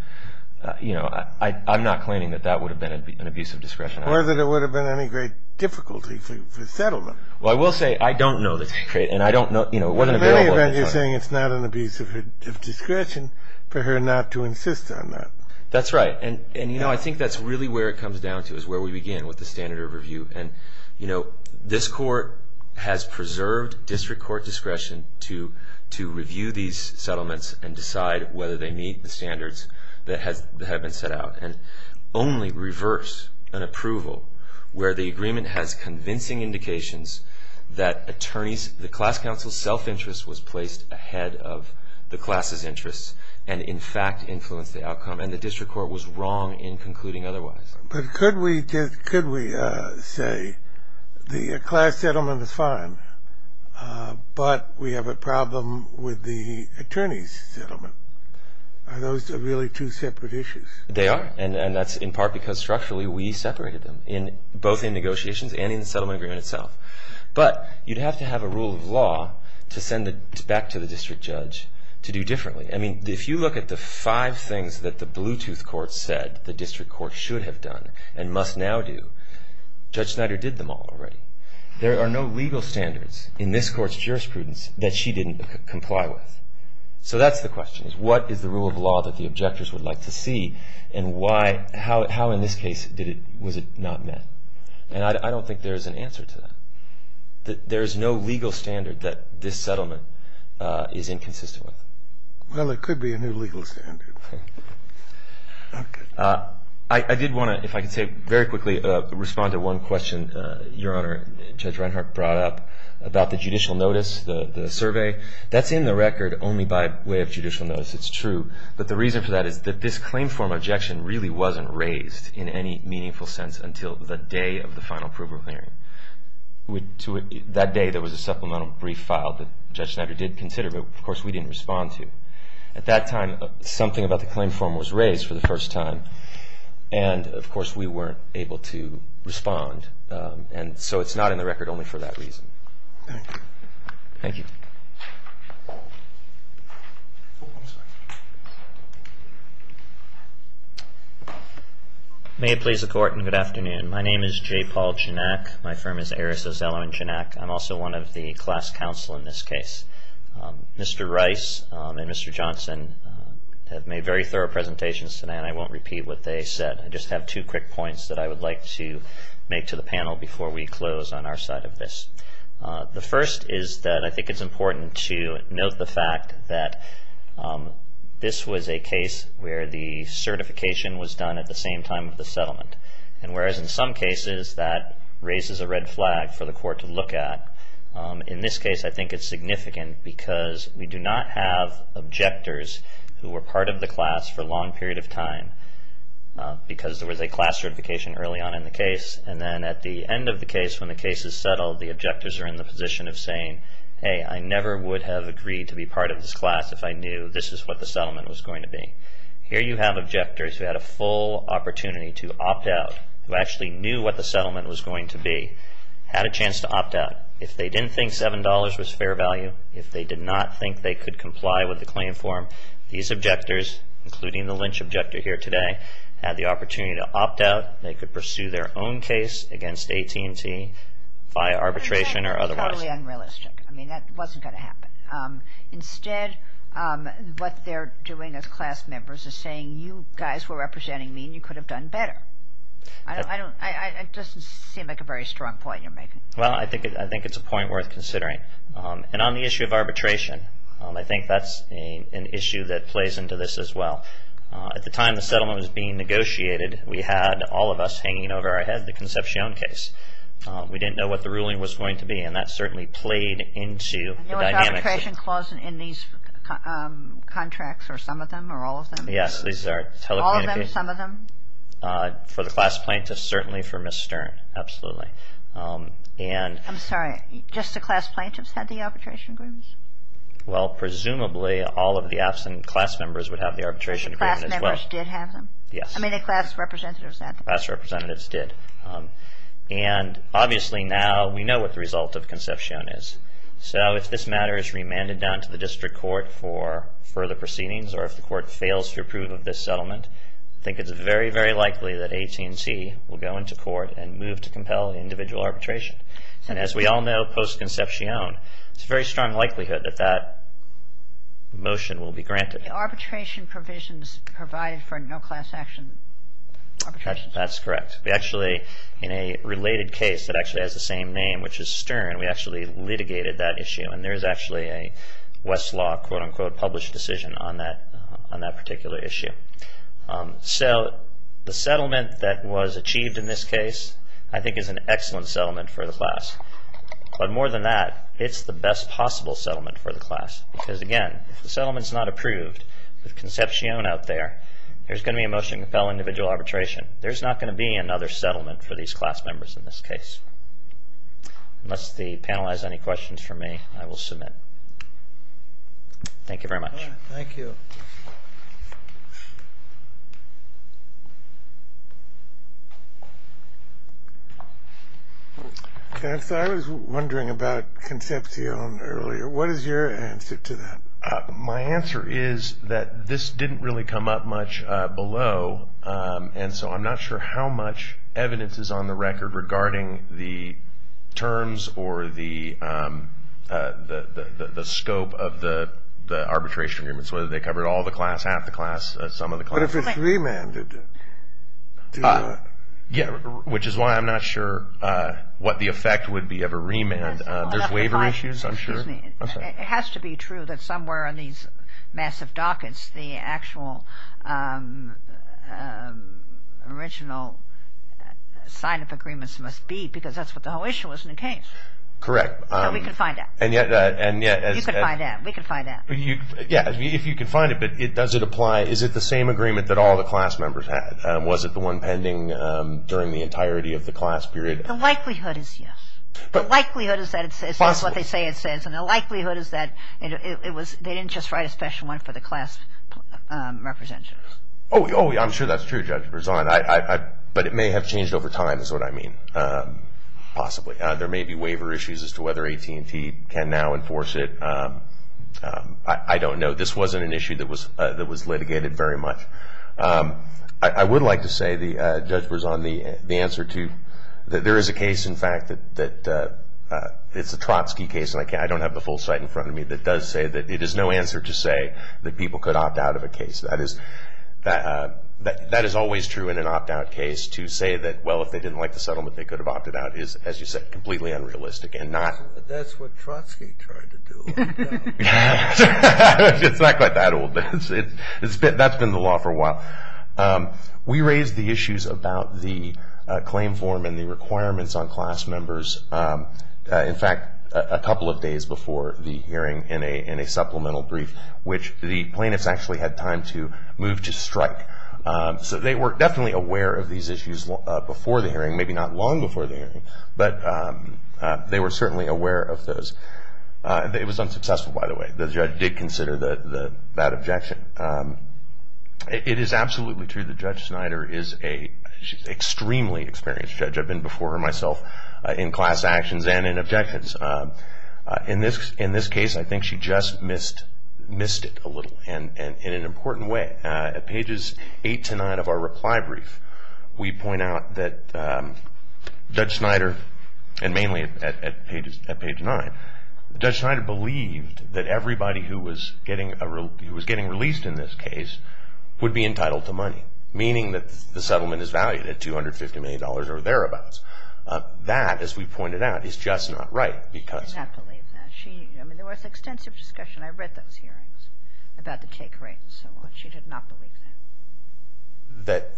you know, I'm not claiming that that would have been an abuse of discretion. Or that it would have been any great difficulty for settlement. Well, I will say I don't know the take rate, and I don't know, you know, it wasn't available. In any event, you're saying it's not an abuse of discretion for her not to insist on that. That's right. And, you know, I think that's really where it comes down to, is where we begin with the standard of review. And, you know, this court has preserved district court discretion to review these settlements and decide whether they meet the standards that have been set out. And only reverse an approval where the agreement has convincing indications that attorneys, the class counsel's self-interest was placed ahead of the class's interests, and in fact influenced the outcome, and the district court was wrong in concluding otherwise. But could we say the class settlement is fine, but we have a problem with the attorney's settlement? Are those really two separate issues? They are, and that's in part because structurally we separated them, both in negotiations and in the settlement agreement itself. But you'd have to have a rule of law to send it back to the district judge to do differently. I mean, if you look at the five things that the Bluetooth court said the district court should have done and must now do, Judge Snyder did them all already. There are no legal standards in this court's jurisprudence that she didn't comply with. So that's the question, is what is the rule of law that the objectors would like to see, and how in this case was it not met? And I don't think there's an answer to that. There is no legal standard that this settlement is inconsistent with. Well, it could be a new legal standard. I did want to, if I could say very quickly, respond to one question, Your Honor, Judge Reinhart brought up about the judicial notice, the survey. That's in the record only by way of judicial notice, it's true. But the reason for that is that this claim form objection really wasn't raised in any meaningful sense until the day of the final approval hearing. That day there was a supplemental brief filed that Judge Snyder did consider, but of course we didn't respond to. At that time something about the claim form was raised for the first time, and of course we weren't able to respond. And so it's not in the record only for that reason. Thank you. Thank you. May it please the Court, and good afternoon. My name is J. Paul Janak. My firm is Eris O'Sullivan Janak. I'm also one of the class counsel in this case. Mr. Rice and Mr. Johnson have made very thorough presentations tonight, and I won't repeat what they said. I just have two quick points that I would like to make to the panel before we close on our side of this. The first is that I think it's important to note the fact that this was a case where the certification was done at the same time of the settlement. And whereas in some cases that raises a red flag for the Court to look at, in this case I think it's significant because we do not have objectors who were part of the class for a long period of time because there was a class certification early on in the case, and then at the end of the case when the case is settled, the objectors are in the position of saying, hey, I never would have agreed to be part of this class if I knew this is what the settlement was going to be. Here you have objectors who had a full opportunity to opt out, who actually knew what the settlement was going to be, had a chance to opt out. If they didn't think $7 was fair value, if they did not think they could comply with the claim form, these objectors, including the Lynch objector here today, had the opportunity to opt out. They could pursue their own case against AT&T via arbitration or otherwise. That's totally unrealistic. I mean, that wasn't going to happen. Instead, what they're doing as class members is saying, you guys were representing me and you could have done better. It doesn't seem like a very strong point you're making. Well, I think it's a point worth considering. And on the issue of arbitration, I think that's an issue that plays into this as well. At the time the settlement was being negotiated, we had all of us hanging over our head the Concepcion case. We didn't know what the ruling was going to be, and that certainly played into the dynamics. Was arbitration clause in these contracts, or some of them, or all of them? Yes, these are telecommunications. All of them, some of them? For the class plaintiffs, certainly for Ms. Stern, absolutely. I'm sorry, just the class plaintiffs had the arbitration agreements? Well, presumably all of the absent class members would have the arbitration agreement as well. Class members did have them? Yes. I mean, the class representatives had them. Class representatives did. And obviously now we know what the result of Concepcion is. So if this matter is remanded down to the district court for further proceedings, or if the court fails to approve of this settlement, I think it's very, very likely that AT&T will go into court and move to compel individual arbitration. And as we all know, post-Concepcion, it's a very strong likelihood that that motion will be granted. The arbitration provisions provide for no class action arbitration? That's correct. We actually, in a related case that actually has the same name, which is Stern, we actually litigated that issue. And there's actually a Westlaw, quote, unquote, published decision on that particular issue. So the settlement that was achieved in this case, I think, is an excellent settlement for the class. But more than that, it's the best possible settlement for the class. Because, again, if the settlement is not approved with Concepcion out there, there's going to be a motion to compel individual arbitration. There's not going to be another settlement for these class members in this case. Unless the panel has any questions for me, I will submit. Thank you very much. Thank you. I was wondering about Concepcion earlier. What is your answer to that? My answer is that this didn't really come up much below, and so I'm not sure how much evidence is on the record regarding the terms or the scope of the arbitration agreements, whether they covered all the class, half the class, some of the class. What if it's remanded? Which is why I'm not sure what the effect would be of a remand. There's waiver issues, I'm sure. It has to be true that somewhere on these massive dockets, the actual original sign-up agreements must be, because that's what the whole issue was in the case. Correct. We can find out. You can find out. We can find out. Yeah, if you can find it, but does it apply? Is it the same agreement that all the class members had? Was it the one pending during the entirety of the class period? The likelihood is yes. Possibly. The likelihood is that it says what they say it says, and the likelihood is that they didn't just write a special one for the class representatives. Oh, I'm sure that's true, Judge Berzon. But it may have changed over time is what I mean, possibly. There may be waiver issues as to whether AT&T can now enforce it. I don't know. This wasn't an issue that was litigated very much. I would like to say, Judge Berzon, the answer to that there is a case, in fact, that it's a Trotsky case, and I don't have the full site in front of me, that does say that it is no answer to say that people could opt out of a case. That is always true in an opt-out case to say that, well, if they didn't like the settlement, they could have opted out is, as you said, completely unrealistic and not. That's what Trotsky tried to do. It's not quite that old. That's been the law for a while. We raised the issues about the claim form and the requirements on class members, in fact, a couple of days before the hearing in a supplemental brief, which the plaintiffs actually had time to move to strike. So they were definitely aware of these issues before the hearing, maybe not long before the hearing, but they were certainly aware of those. It was unsuccessful, by the way. The judge did consider that objection. It is absolutely true that Judge Snyder is an extremely experienced judge. I've been before her myself in class actions and in objections. In this case, I think she just missed it a little in an important way. At pages 8 to 9 of our reply brief, we point out that Judge Snyder, and mainly at page 9, Judge Snyder believed that everybody who was getting released in this case would be entitled to money, meaning that the settlement is valued at $250 million or thereabouts. That, as we pointed out, is just not right. She did not believe that. There was extensive discussion. I read those hearings about the take rates and so on. She did not believe that.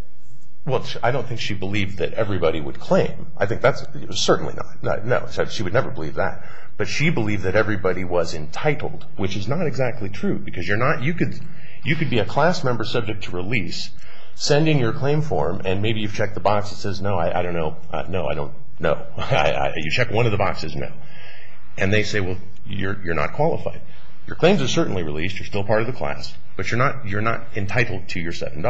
Well, I don't think she believed that everybody would claim. I think that's certainly not. No, she would never believe that. But she believed that everybody was entitled, which is not exactly true, because you could be a class member subject to release, send in your claim form, and maybe you've checked the box that says, no, I don't know, no, I don't know. You check one of the boxes, no. And they say, well, you're not qualified. Your claims are certainly released. You're still part of the class, but you're not entitled to your $7.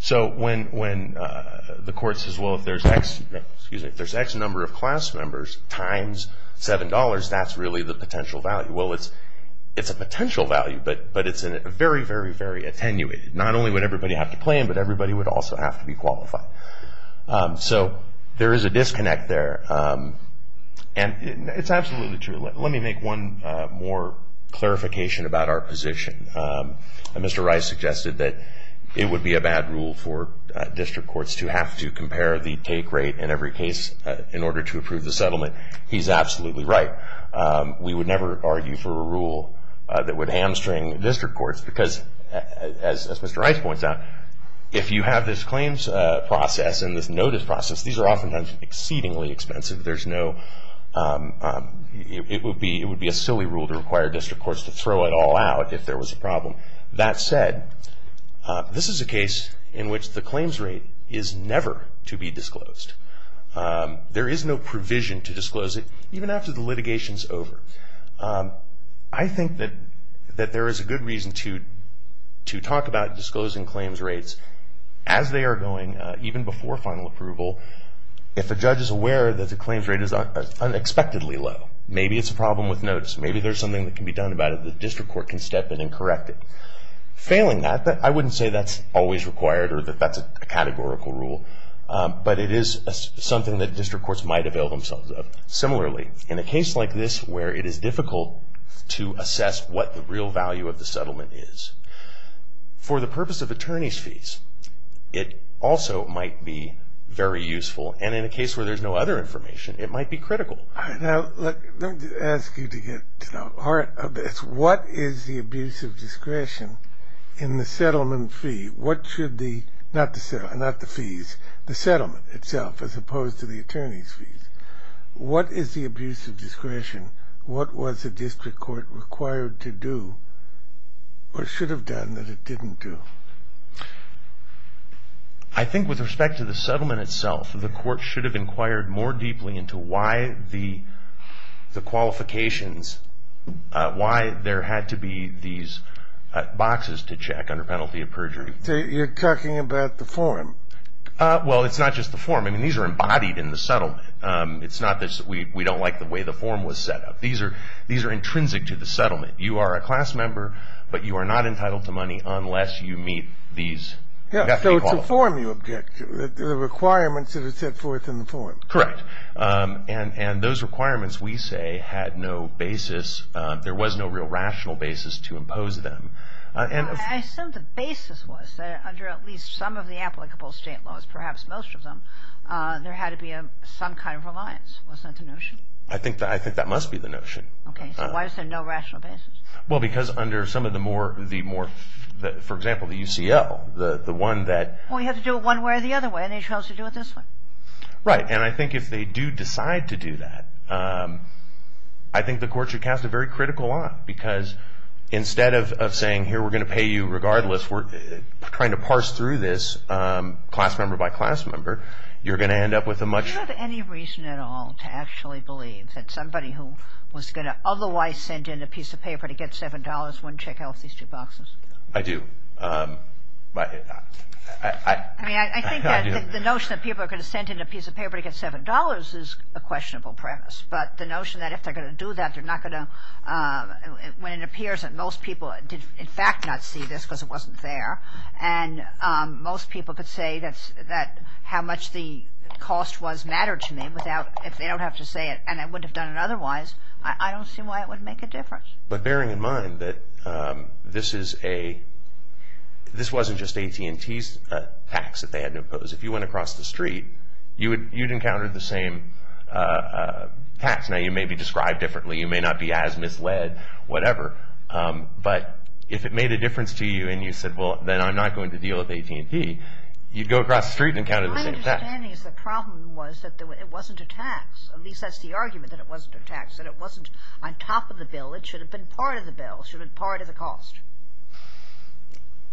So when the court says, well, if there's X number of class members times $7, that's really the potential value. Well, it's a potential value, but it's a very, very, very attenuated. Not only would everybody have to claim, but everybody would also have to be qualified. So there is a disconnect there. And it's absolutely true. Let me make one more clarification about our position. Mr. Rice suggested that it would be a bad rule for district courts to have to compare the take rate in every case in order to approve the settlement. He's absolutely right. We would never argue for a rule that would hamstring district courts, because as Mr. Rice points out, if you have this claims process and this notice process, these are oftentimes exceedingly expensive. It would be a silly rule to require district courts to throw it all out if there was a problem. That said, this is a case in which the claims rate is never to be disclosed. There is no provision to disclose it, even after the litigation is over. I think that there is a good reason to talk about disclosing claims rates as they are going, even before final approval. If a judge is aware that the claims rate is unexpectedly low, maybe it's a problem with notice, maybe there's something that can be done about it, the district court can step in and correct it. Failing that, I wouldn't say that's always required or that that's a categorical rule, but it is something that district courts might avail themselves of. Similarly, in a case like this where it is difficult to assess what the real value of the settlement is, for the purpose of attorney's fees, it also might be very useful, and in a case where there's no other information, it might be critical. Let me ask you to get to the heart of this. What is the abuse of discretion in the settlement fee? Not the fees, the settlement itself, as opposed to the attorney's fees. What is the abuse of discretion? What was the district court required to do or should have done that it didn't do? I think with respect to the settlement itself, the court should have inquired more deeply into why the qualifications, why there had to be these boxes to check under penalty of perjury. So you're talking about the form? Well, it's not just the form. I mean, these are embodied in the settlement. It's not that we don't like the way the form was set up. These are intrinsic to the settlement. You are a class member, but you are not entitled to money unless you meet these. So it's the form you object to, the requirements that are set forth in the form. Correct. And those requirements, we say, had no basis. There was no real rational basis to impose them. I assume the basis was that under at least some of the applicable state laws, perhaps most of them, there had to be some kind of reliance. Was that the notion? I think that must be the notion. Okay. So why is there no rational basis? Well, because under some of the more, for example, the UCL, the one that – Well, you have to do it one way or the other way, and they chose to do it this way. Right. And I think if they do decide to do that, I think the court should cast a very critical eye because instead of saying, here, we're going to pay you regardless, we're trying to parse through this class member by class member, you're going to end up with a much – Do you have any reason at all to actually believe that somebody who was going to otherwise send in a piece of paper to get $7 wouldn't check out these two boxes? I do. I mean, I think that the notion that people are going to send in a piece of paper to get $7 is a questionable premise. But the notion that if they're going to do that, they're not going to – When it appears that most people did, in fact, not see this because it wasn't there, and most people could say that how much the cost was mattered to me without – if they don't have to say it, and I wouldn't have done it otherwise, I don't see why it would make a difference. But bearing in mind that this is a – this wasn't just AT&T's tax that they had to impose. If you went across the street, you'd encounter the same tax. Now, you may be described differently. You may not be as misled, whatever. But if it made a difference to you and you said, well, then I'm not going to deal with AT&T, you'd go across the street and encounter the same tax. My understanding is the problem was that it wasn't a tax. At least that's the argument, that it wasn't a tax, that it wasn't on top of the bill. It should have been part of the bill. It should have been part of the cost.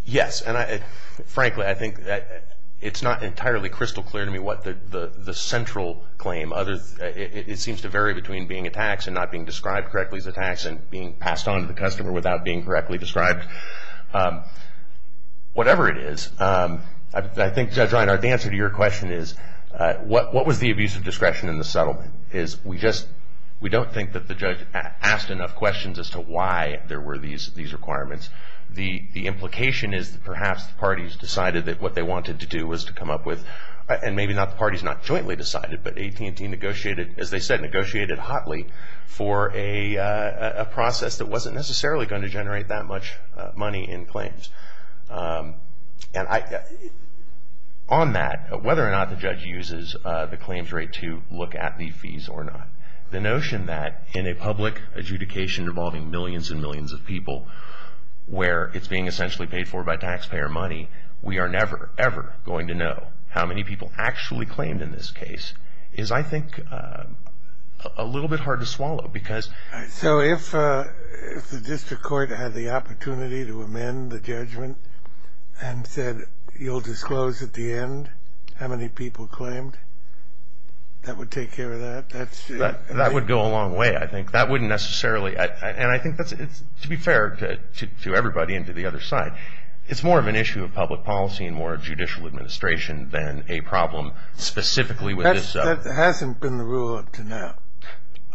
Yes, and frankly, I think that it's not entirely crystal clear to me what the central claim. It seems to vary between being a tax and not being described correctly as a tax and being passed on to the customer without being correctly described. Whatever it is, I think, Judge Reinhart, the answer to your question is, what was the abuse of discretion in the settlement? We don't think that the judge asked enough questions as to why there were these requirements. The implication is that perhaps the parties decided that what they wanted to do was to come up with – as they said, negotiated hotly for a process that wasn't necessarily going to generate that much money in claims. On that, whether or not the judge uses the claims rate to look at the fees or not, the notion that in a public adjudication involving millions and millions of people where it's being essentially paid for by taxpayer money, we are never, ever going to know how many people actually claimed in this case is, I think, a little bit hard to swallow because – So if the district court had the opportunity to amend the judgment and said, you'll disclose at the end how many people claimed, that would take care of that? That would go a long way, I think. That wouldn't necessarily – and I think, to be fair to everybody and to the other side, it's more of an issue of public policy and more of judicial administration than a problem specifically with this – That hasn't been the rule up to now.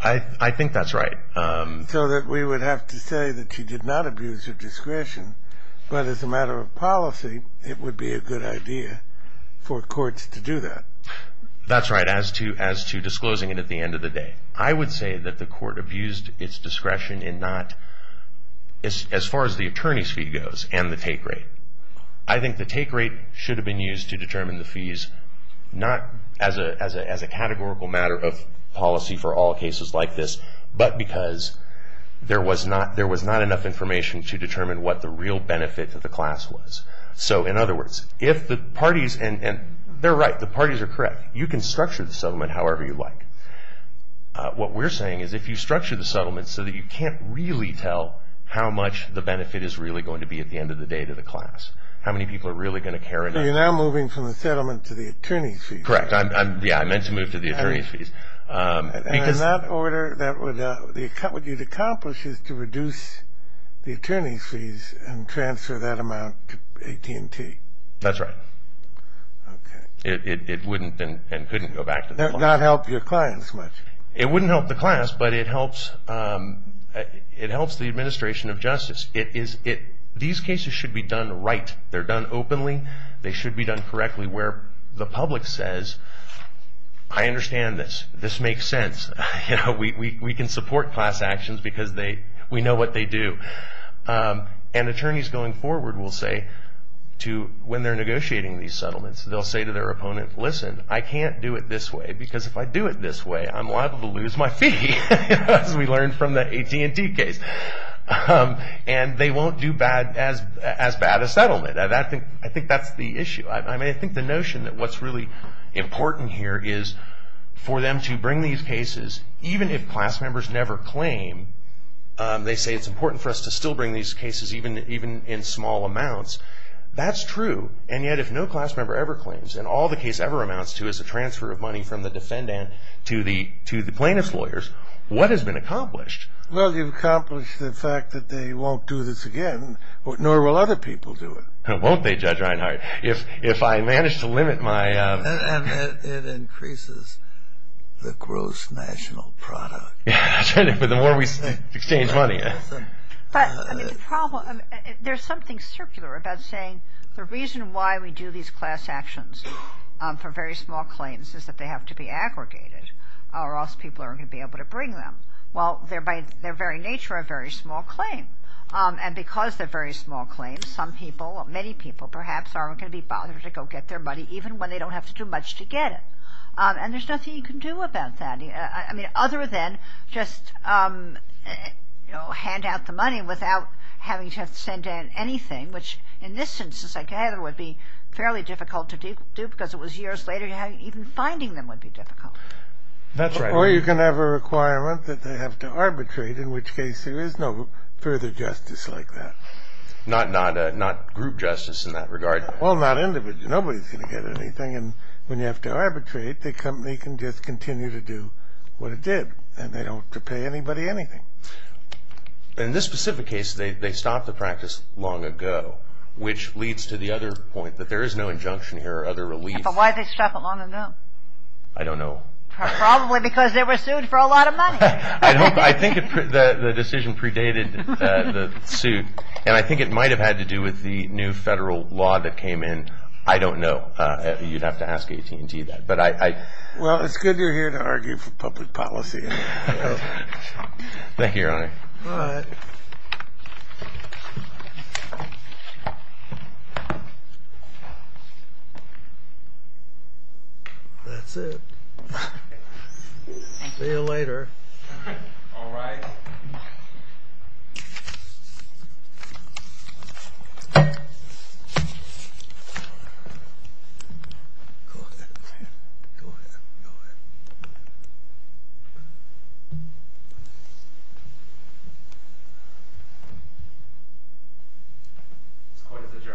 I think that's right. So that we would have to say that you did not abuse your discretion, but as a matter of policy, it would be a good idea for courts to do that. That's right, as to disclosing it at the end of the day. I would say that the court abused its discretion in not – as far as the attorney's fee goes and the take rate. I think the take rate should have been used to determine the fees, not as a categorical matter of policy for all cases like this, but because there was not enough information to determine what the real benefit to the class was. So, in other words, if the parties – and they're right. The parties are correct. You can structure the settlement however you like. What we're saying is if you structure the settlement so that you can't really tell how much the benefit is really going to be at the end of the day to the class, how many people are really going to care enough – So you're now moving from the settlement to the attorney's fees. Correct. Yeah, I meant to move to the attorney's fees. And in that order, what you'd accomplish is to reduce the attorney's fees and transfer that amount to AT&T. That's right. Okay. It wouldn't and couldn't go back to the law. That would not help your clients much. It wouldn't help the class, but it helps the administration of justice. These cases should be done right. They're done openly. They should be done correctly where the public says, I understand this. This makes sense. We can support class actions because we know what they do. And attorneys going forward will say to – when they're negotiating these settlements, they'll say to their opponent, listen, I can't do it this way because if I do it this way, I'm liable to lose my fee, as we learned from the AT&T case. And they won't do as bad a settlement. I think that's the issue. I think the notion that what's really important here is for them to bring these cases, even if class members never claim, they say it's important for us to still bring these cases even in small amounts. That's true. And yet, if no class member ever claims, and all the case ever amounts to is a transfer of money from the defendant to the plaintiff's lawyers, what has been accomplished? Well, you've accomplished the fact that they won't do this again, nor will other people do it. Won't they, Judge Reinhart? If I manage to limit my – And it increases the gross national product. The more we exchange money. But, I mean, the problem – there's something circular about saying the reason why we do these class actions for very small claims is that they have to be aggregated or else people aren't going to be able to bring them. Well, they're by their very nature a very small claim. And because they're very small claims, some people, many people perhaps aren't going to be bothered to go get their money even when they don't have to do much to get it. And there's nothing you can do about that. I mean, other than just, you know, hand out the money without having to send in anything, which in this sense, as I gather, would be fairly difficult to do because it was years later. Even finding them would be difficult. That's right. Or you can have a requirement that they have to arbitrate, in which case there is no further justice like that. Not group justice in that regard. Well, not individual. Nobody's going to get anything. And when you have to arbitrate, the company can just continue to do what it did. And they don't have to pay anybody anything. In this specific case, they stopped the practice long ago, which leads to the other point that there is no injunction here or other relief. But why did they stop it long ago? I don't know. Probably because they were sued for a lot of money. I think the decision predated the suit. And I think it might have had to do with the new federal law that came in, but I don't know. You'd have to ask AT&T that. Well, it's good you're here to argue for public policy. Thank you, Your Honor. All right. That's it. See you later. All right. Go ahead. Go ahead. Go ahead. This court is adjourned. Thank you.